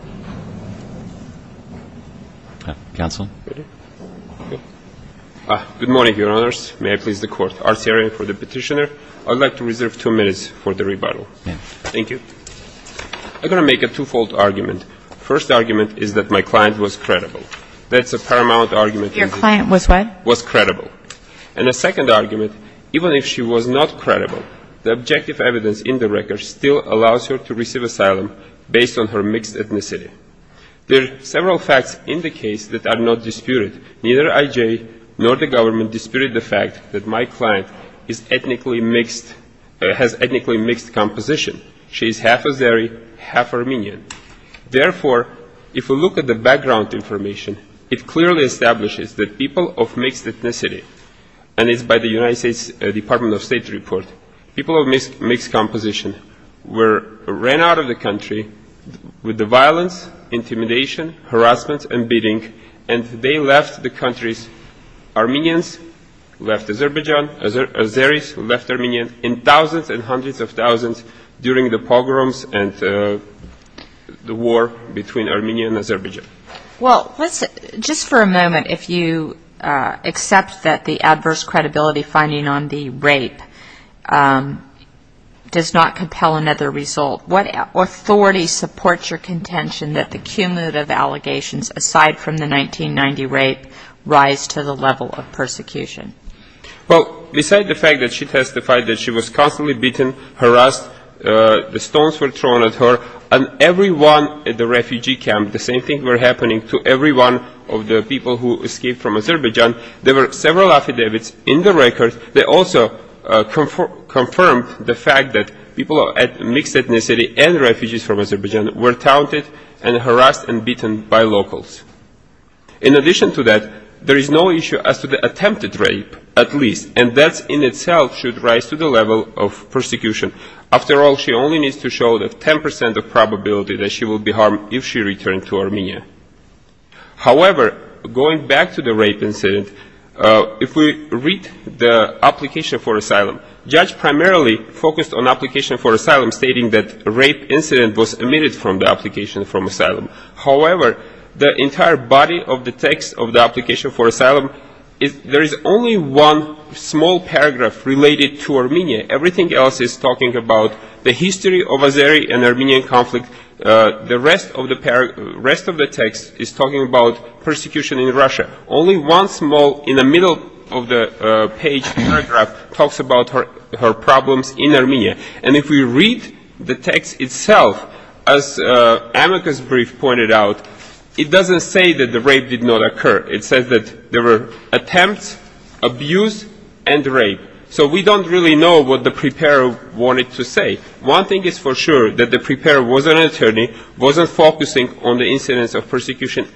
Good morning, Your Honors. May I please the Court. Arsarian for the Petitioner. I'd like to reserve two minutes for the rebuttal. Thank you. I'm going to make a twofold argument. First argument is that my client was credible. That's a paramount argument. Your client was what? Was credible. And a second argument, even if she was not credible, the objective evidence in the record still allows her to receive asylum based on her mixed ethnicity. There are several facts in the case that are not disputed. Neither IJ nor the government disputed the fact that my client is ethnically mixed, has ethnically mixed composition. She is half Azeri, half Armenian. Therefore, if we look at the background information, it clearly establishes that people of mixed ethnicity, and it's by the United States Department of People of Mixed Composition, ran out of the country with the violence, intimidation, harassment, and beating. And they left the countries, Armenians left Azerbaijan, Azeris left Armenia in thousands and hundreds of thousands during the pogroms and the war between Armenia and Azerbaijan. Well, just for a moment, if you accept that the adverse credibility finding on the rape case does not compel another result, what authority supports your contention that the cumulative allegations, aside from the 1990 rape, rise to the level of persecution? Well, besides the fact that she testified that she was constantly beaten, harassed, the stones were thrown at her, and everyone at the refugee camp, the same thing were happening to everyone of the people who escaped from Azerbaijan, there were several affidavits in the record that also confirmed the fact that people of mixed ethnicity and refugees from Azerbaijan were taunted and harassed and beaten by locals. In addition to that, there is no issue as to the attempted rape, at least, and that in itself should rise to the level of persecution. After all, she only needs to show the 10 percent of probability that she will be harmed if she returned to Armenia. However, going back to the rape incident, if we read the application for asylum, the judge primarily focused on the application for asylum, stating that the rape incident was omitted from the application for asylum. However, the entire body of the text of the application for asylum, there is only one small paragraph related to Armenia. Everything else is talking about the history of the Azeri and Armenian conflict. The rest of the text is talking about persecution in Russia. Only one small, in the middle of the page, paragraph talks about her problems in Armenia. And if we read the text itself, as Amika's brief pointed out, it doesn't say that the rape did not occur. It says that there were attempts, abuse, and rape. So we don't really know what the preparer wanted to say. One thing is for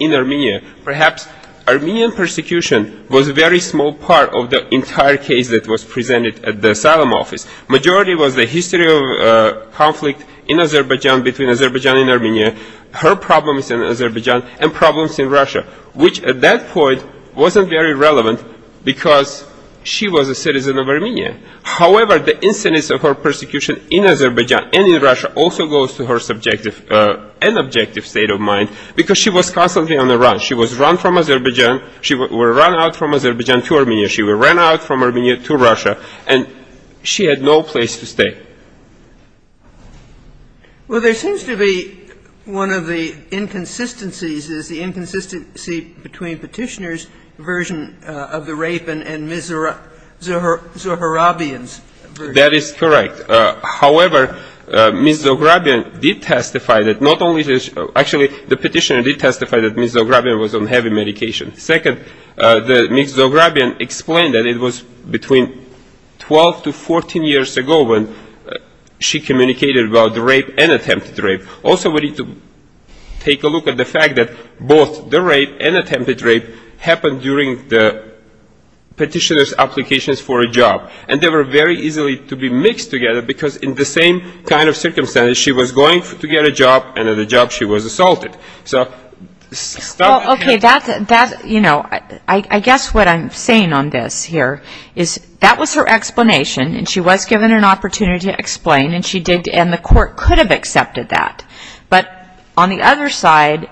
Armenia, perhaps Armenian persecution was a very small part of the entire case that was presented at the asylum office. The majority was the history of conflict in Azerbaijan between Azerbaijan and Armenia, her problems in Azerbaijan, and problems in Russia, which at that point wasn't very relevant because she was a citizen of Armenia. However, the incidents of her persecution in Azerbaijan and in Russia also go to her subjective and personal experience. She was constantly on the run. She was run from Azerbaijan. She was run out from Azerbaijan to Armenia. She was run out from Armenia to Russia. And she had no place to stay. Well, there seems to be one of the inconsistencies is the inconsistency between Petitioner's version of the rape and Ms. Zohrabian's version. That is correct. However, Ms. Zohrabian did testify that not only did she, actually the Petitioner testify that Ms. Zohrabian was on heavy medication. Second, Ms. Zohrabian explained that it was between 12 to 14 years ago when she communicated about the rape and attempted rape. Also, we need to take a look at the fact that both the rape and attempted rape happened during the Petitioner's applications for a job. And they were very easily to be mixed together because in the same kind of circumstances, she was going to get a job and in the job, she was assaulted. So, okay, that's, you know, I guess what I'm saying on this here is that was her explanation and she was given an opportunity to explain and the court could have accepted that. But on the other side,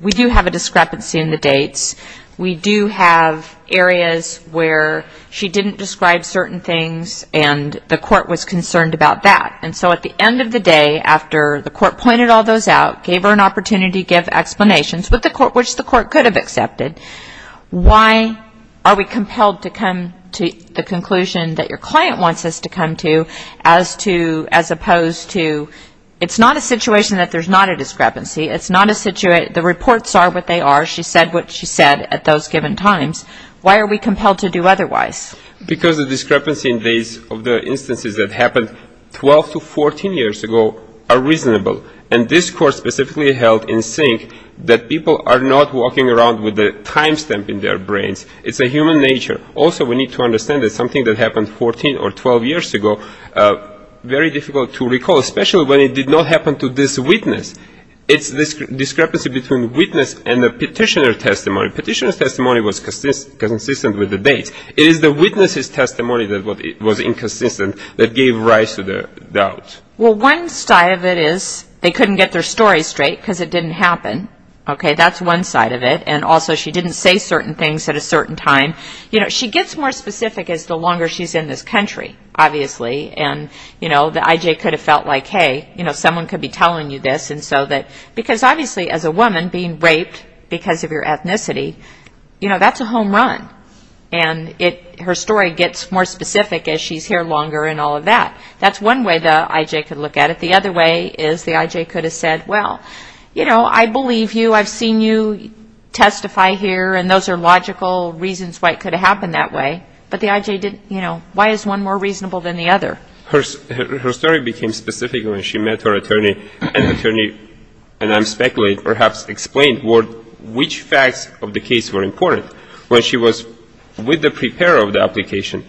we do have a discrepancy in the dates. We do have areas where she didn't describe certain things and the court was concerned about that. And so at the end of the day, after the court pointed all those out, gave her an opportunity to give explanations which the court could have accepted, why are we compelled to come to the conclusion that your client wants us to come to as opposed to, it's not a situation that there's not a discrepancy. It's not a situation, the reports are what they are. She said what she said at those given times. Why are we compelled to do otherwise? Because the discrepancy in dates of the instances that happened 12 to 14 years ago are reasonable and this court specifically held in sync that people are not walking around with a time stamp in their brains. It's a human nature. Also, we need to understand that something that happened 14 or 12 years ago, very difficult to recall, especially when it did not happen to this witness. It's this discrepancy between witness and the petitioner testimony. Petitioner's testimony was inconsistent that gave rise to the doubt. One side of it is they couldn't get their story straight because it didn't happen. That's one side of it. Also, she didn't say certain things at a certain time. She gets more specific as the longer she's in this country, obviously. The IJ could have felt like, hey, someone could be telling you this. Because obviously as a woman being raped because of your ethnicity, that's a home run. Her story gets more specific as she's here longer and all of that. That's one way the IJ could look at it. The other way is the IJ could have said, well, I believe you. I've seen you testify here and those are logical reasons why it could have happened that way. But the IJ didn't. Why is one more reasonable than the other? Her story became specific when she met her attorney and the attorney, and I'm speculating, perhaps explained which facts of the case were important. When she was with the preparer of the application,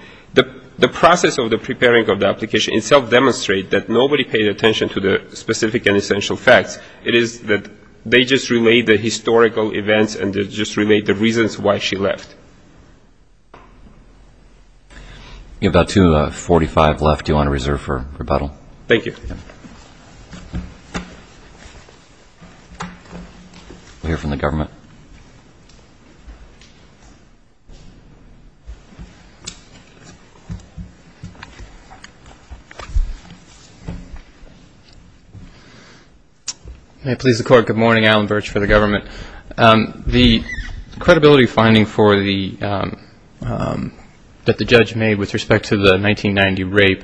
the process of the preparing of the application itself demonstrated that nobody paid attention to the specific and essential facts. It is that they just relayed the historical events and just relayed the reasons why she left. You have about 2.45 left. Do you want to reserve for rebuttal? Thank you. We'll hear from the government. May it please the Court, good morning. Alan Birch for the government. The credibility finding that the judge made with respect to the 1990 rape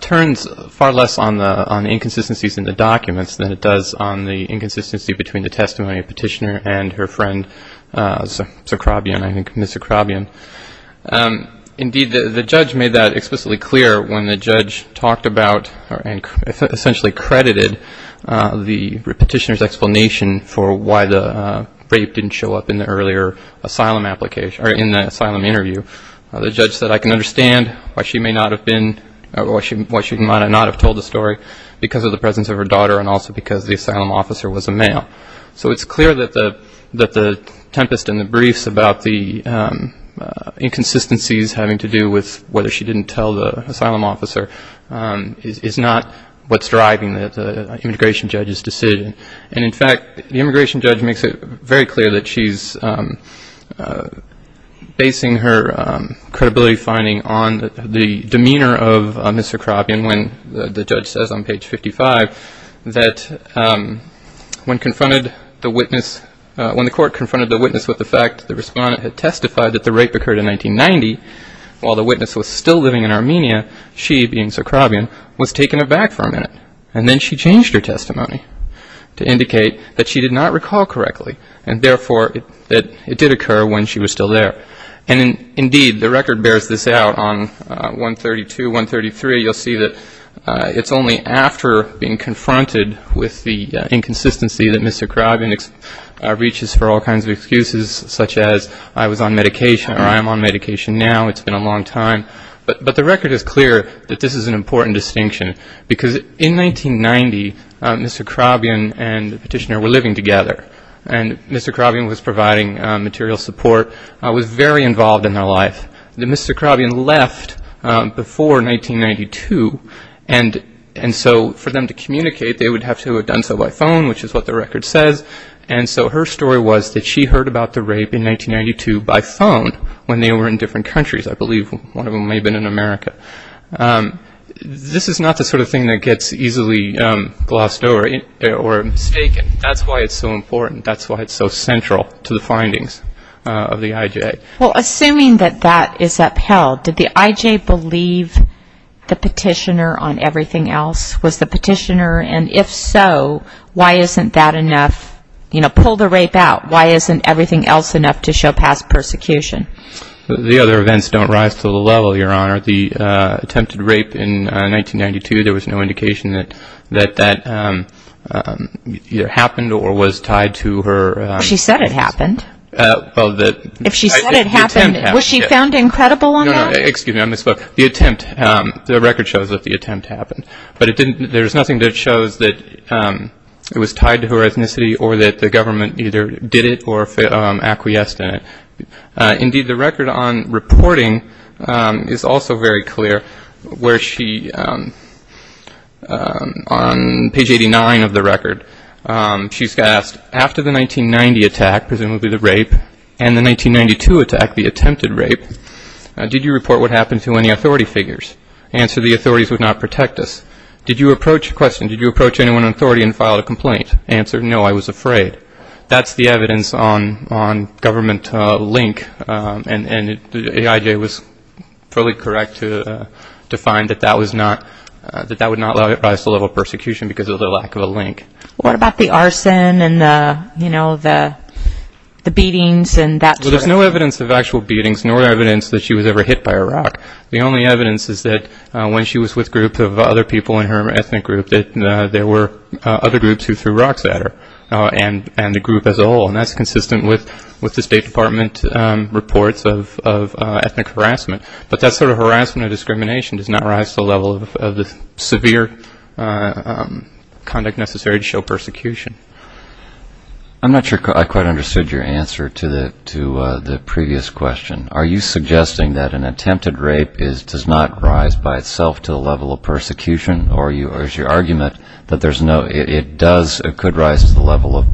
turns out to be that the judge was far less on the inconsistencies in the documents than it does on the inconsistency between the testimony of Petitioner and her friend, Mr. Krobian. Indeed, the judge made that explicitly clear when the judge talked about and essentially credited the Petitioner's explanation for why the rape didn't show up in the earlier asylum interview. The judge said, I can understand why she might not have told the story because of the presence of her daughter and also because the asylum officer was a male. So it's clear that the tempest in the briefs about the inconsistencies having to do with whether she didn't tell the asylum officer is not what's driving the immigration judge's decision. And in fact, the immigration judge makes it very clear that she's basing her credibility finding on the demeanor of Ms. Krobian when the judge says on page 55 that when confronted the witness, when the court confronted the witness with the fact the respondent had testified that the rape occurred in 1990, while the witness was still living in Armenia, she being Sir Krobian, was taken aback for a minute. And then she changed her testimony to indicate that she did not recall correctly and therefore that it did occur when she was still there. And indeed, the record bears this out on 132, 133. You'll see that it's only after being confronted with the inconsistency that Mr. Krobian reaches for all kinds of excuses such as I was on medication or I am on medication now, it's been a long time. But the record is clear that this is an important distinction. Because in 1990, Mr. Krobian and the petitioner were living together. And Mr. Krobian was providing material support, was very involved in their life. Then Mr. Krobian left before 1992. And so for them to communicate, they would have to have done so by phone, which is what the record says. And so her story was that she heard about the rape in 1992 by phone when they were in different countries. I believe one of them may have been in America. This is not the sort of thing that gets easily glossed over or mistaken. That's why it's so important. That's why it's so central to the findings of the IJ. Well, assuming that that is upheld, did the IJ believe the petitioner on everything else? Was the petitioner? And if so, why isn't that enough? You know, pull the rape out. Why isn't everything else enough to show past persecution? The other events don't rise to the level, Your Honor. The attempted rape in 1992, there was no indication that that either happened or was tied to her... She said it happened. Well, the... If she said it happened, was she found incredible on that? No, no. Excuse me. I misspoke. The attempt, the record shows that the attempt happened. But it didn't, there's nothing that shows that it was tied to her ethnicity or that the government either did it or acquiesced in it. Indeed, the record on reporting is also very clear, where she, on page 89 of the record, she's got asked, after the 1990 attack, presumably the rape, and the 1992 attack, the attempted rape, did you report what happened to any authority figures? Answer, the authorities would not protect us. Did you approach, question, did you approach anyone in authority and file a complaint? Answer, no, I was afraid. That's the evidence on government link, and AIJ was fully correct to find that that was not, that that would not rise to the level of persecution because of the lack of a link. What about the arson and the, you know, the beatings and that sort of thing? Well, there's no evidence of actual beatings nor evidence that she was ever hit by a rock. The only evidence is that when she was with groups of other people in her ethnic group that there were other groups who threw rocks at her, and the group as a whole. And that's consistent with the State Department reports of ethnic harassment. But that sort of harassment or discrimination does not rise to the level of the severe conduct necessary to show persecution. I'm not sure I quite understood your answer to the previous question. Are you suggesting that an attempted rape does not rise by itself to the level of persecution, or is your argument that there's no, it does, it could rise to the level of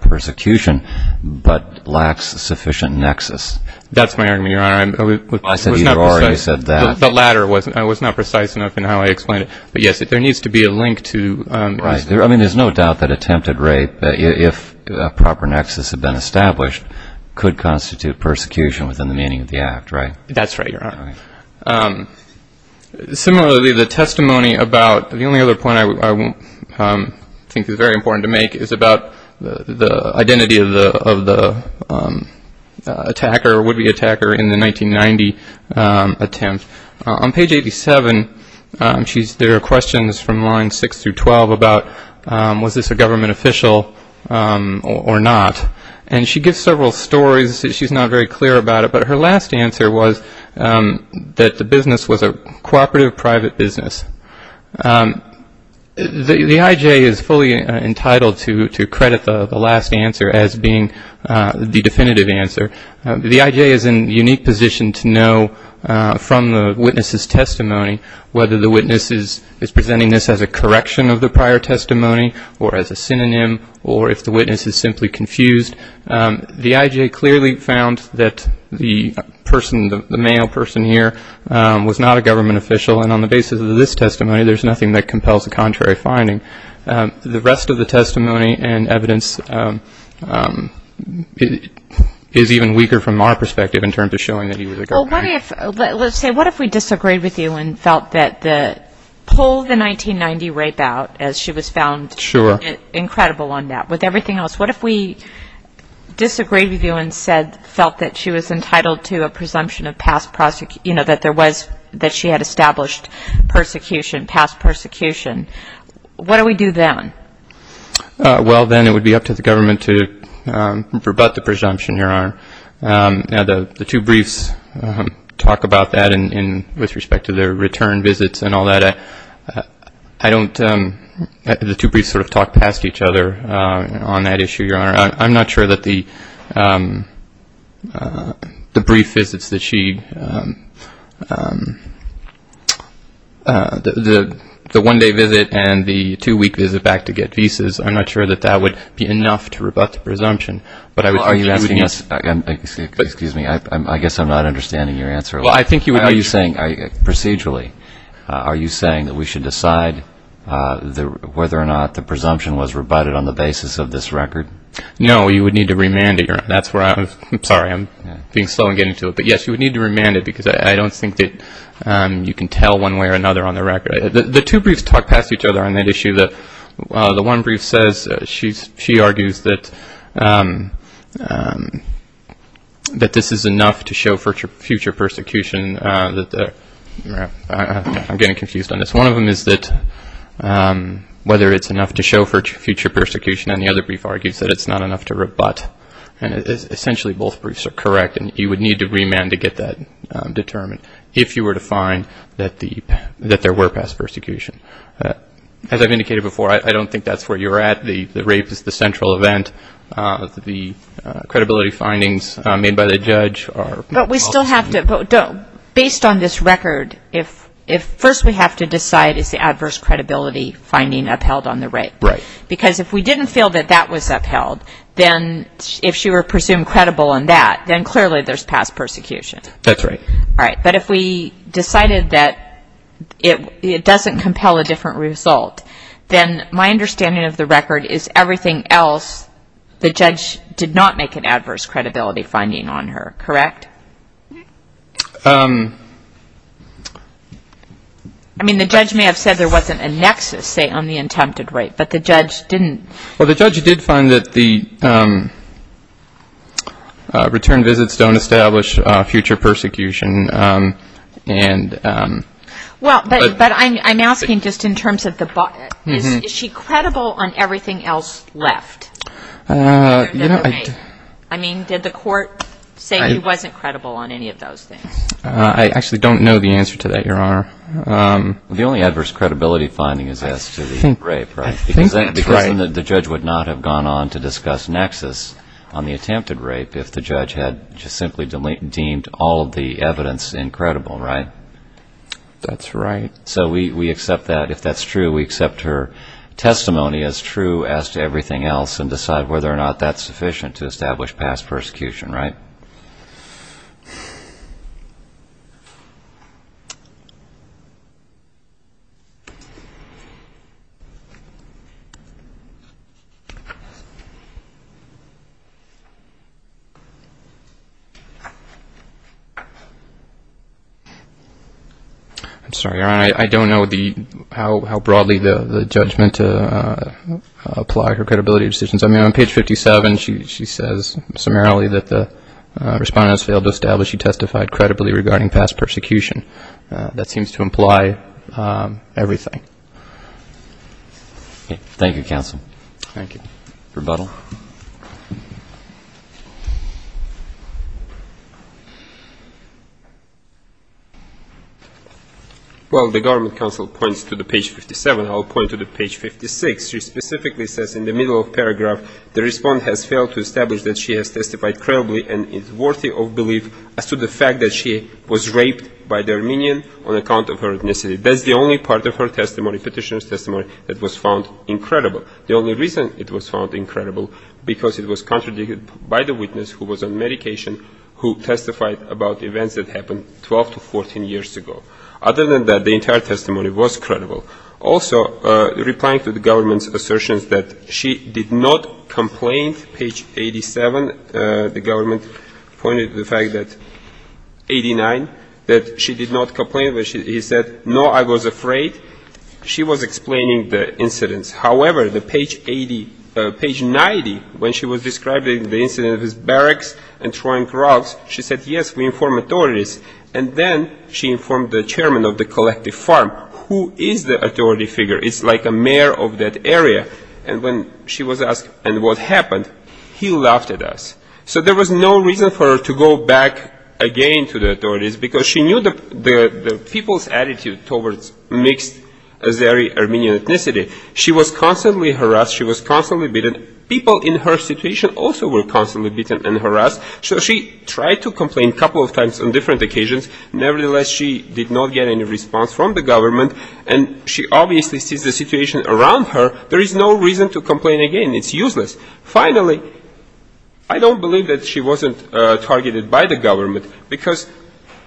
persecution, but lacks sufficient nexus? That's my argument, Your Honor. I said you already said that. The latter was not precise enough in how I explained it. But yes, there needs to be a link to... Right. I mean, there's no doubt that attempted rape, if a proper nexus had been established, could constitute persecution within the meaning of the act, right? That's right, Your Honor. Similarly, the testimony about, the only other point I think is very important to make is about the identity of the attacker, would-be attacker in the 1990 attempt. On page 87, there are questions from lines 6 through 12 about was this a government official or not. And she gives several stories that she's not very clear about it, but her last answer was that the business was a cooperative private business. The IJ is fully entitled to credit the last answer as being the definitive answer. The IJ is in a unique position to know from the witness's testimony whether the witness is presenting this as a correction of the prior testimony, or as a synonym, or if the witness is simply confused. The IJ clearly found that the person, the male person here, was not a government official. And on the basis of this testimony, there's nothing that compels a contrary finding. The rest of the testimony and evidence is even weaker from our perspective in terms of showing that he was a government official. Well, what if, let's say, what if we disagreed with you and felt that the, pull the 1990 rape out as she was found... Sure. Incredible on that. With everything else, what if we disagreed with you and said, felt that she was entitled to a presumption of past, you know, that there was, that she had established persecution, past persecution? What do we do then? Well, then it would be up to the government to rebut the presumption, Your Honor. Now, the two briefs talk about that with respect to their return visits and all that. I don't, the two briefs sort of talk past each other on that issue, Your Honor. I'm not sure that the brief visits that she, the one-day visit and the two-week visit back to get visas, I'm not sure that that would be enough to rebut the presumption. Well, are you asking us, excuse me, I guess I'm not understanding your answer. Well, I think you would be saying, procedurally, are you saying that we should decide whether or not the presumption was rebutted on the basis of this record? No, you would need to remand it, Your Honor. That's where I was, I'm sorry, I'm being slow in getting to it. But yes, you would need to remand it because I don't think that you can tell one way or another on the record. The two briefs talk past each other on that issue. The one brief says, she argues that this is enough to show future persecution. I'm getting confused on this. One of them is that whether it's enough to show future persecution, and the other brief argues that it's not enough to rebut. And essentially both briefs are correct, and you would need to remand to get that determined, if you were to find that there were past persecution. As I've indicated before, I don't think that's where you're at. The rape is the central event. The credibility findings made by the judge are... Based on this record, first we have to decide is the adverse credibility finding upheld on the rape. Right. Because if we didn't feel that that was upheld, then if she were presumed credible on that, then clearly there's past persecution. That's right. All right. But if we decided that it doesn't compel a different result, then my understanding of the record is everything else the judge did not make an adverse credibility finding on her, correct? I mean, the judge may have said there wasn't a nexus, say, on the attempted rape, but the judge didn't. Well, the judge did find that the return visits don't establish future persecution, and... Well, but I'm asking just in terms of the... Is she credible on everything else left? You know, I... I mean, did the court say he wasn't credible on any of those things? I actually don't know the answer to that, Your Honor. The only adverse credibility finding is as to the rape, right? I think that's right. Because then the judge would not have gone on to discuss nexus on the attempted rape if the judge had just simply deemed all of the evidence incredible, right? That's right. So we accept that. If that's true, we accept her testimony as true as to everything else and decide whether or not that's sufficient to establish past persecution, right? I'm sorry, Your Honor. I don't know how broadly the judge meant to apply her credibility decisions. I mean, on page 57, she says summarily that the respondents failed to establish she testified credibly regarding past persecution. That seems to imply everything. Thank you, counsel. Thank you. Rebuttal. Well, the government counsel points to the page 57. I'll point to the page 56. She specifically says in the middle of paragraph, the respondent has failed to establish that she has testified credibly and is worthy of belief as to the fact that she was raped by the Armenian on account of her ethnicity. That's the only part of her testimony, petitioner's testimony, that was found incredible. The only reason it was found incredible, because it was contradicted by the witness who was on medication who testified about events that happened 12 to 14 years ago. Other than that, the entire testimony was credible. Also, replying to the government's assertions that she did not complain, page 87, the government pointed to the fact that 89, that she did not complain. He said, no, I was afraid. She was explaining the incidents. However, the page 90, when she was describing the incident of his barracks and throwing grouts, she said, yes, we informed authorities. And then she informed the chairman of the collective farm. Who is the authority figure? It's like a mayor of that area. And when she was asked, and what happened, he laughed at us. So there was no reason for her to go back again to the authorities, because she knew the people's attitude towards mixed Azeri Armenian ethnicity. She was constantly harassed. She was constantly beaten. People in her situation also were constantly beaten and harassed. So she tried to complain a couple of times on different occasions. Nevertheless, she did not get any response from the government. And she obviously sees the situation around her. There is no reason to complain again. It's useless. Finally, I don't believe that she wasn't targeted by the government, because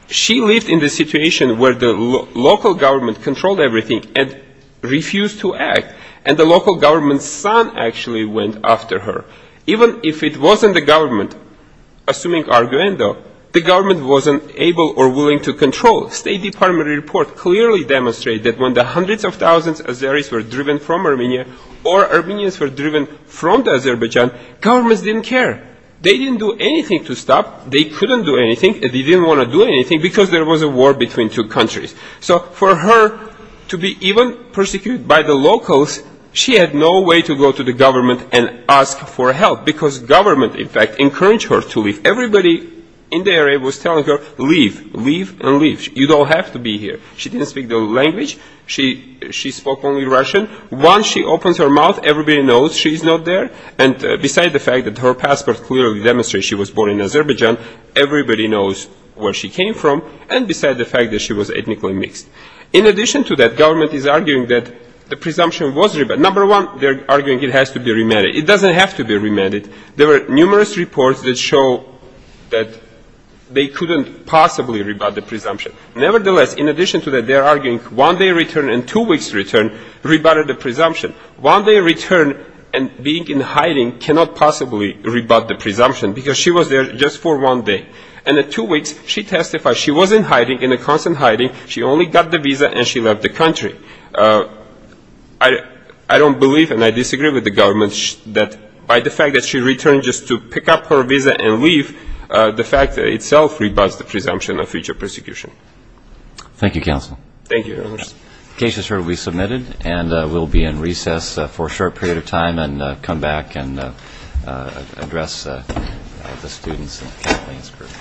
she lived in the situation where the local government controlled everything and refused to act. And the local government's son actually went after her. Even if it wasn't the government, assuming Arguendo, the government wasn't able or willing to control. State Department reports clearly demonstrate that when the hundreds of thousands of Azeris were driven from Armenia or Armenians were driven from Azerbaijan, governments didn't care. They didn't do anything to stop. They couldn't do anything. They didn't want to do anything, because there was a war between two countries. So for her to be even persecuted by the locals, she had no way to go to the government and ask for help, because government, in fact, encouraged her to leave. Everybody in the area was telling her, leave, leave, and leave. You don't have to be here. She didn't speak the language. She spoke only Russian. Once she opens her mouth, everybody knows she's not there. And besides the fact that her passport clearly demonstrates she was born in Azerbaijan, everybody knows where she came from. And besides the fact that she was ethnically mixed. In addition to that, government is arguing that the presumption was rebutted. Number one, they're arguing it has to be remanded. It doesn't have to be remanded. There were numerous reports that show that they couldn't possibly rebut the presumption. Nevertheless, in addition to that, they're arguing one day return and two weeks return rebutted the presumption. One day return and being in hiding cannot possibly rebut the presumption, because she was there just for one day. And in two weeks, she testified she was in hiding, in a constant hiding. She only got the visa and she left the country. I don't believe and I disagree with the government that by the fact that she returned just to pick up her visa and leave, the fact itself rebuts the presumption of future persecution. Thank you, Your Honor. The case is here to be submitted and we'll be in recess for a short period of time and come back and address the students and Kathleen's group.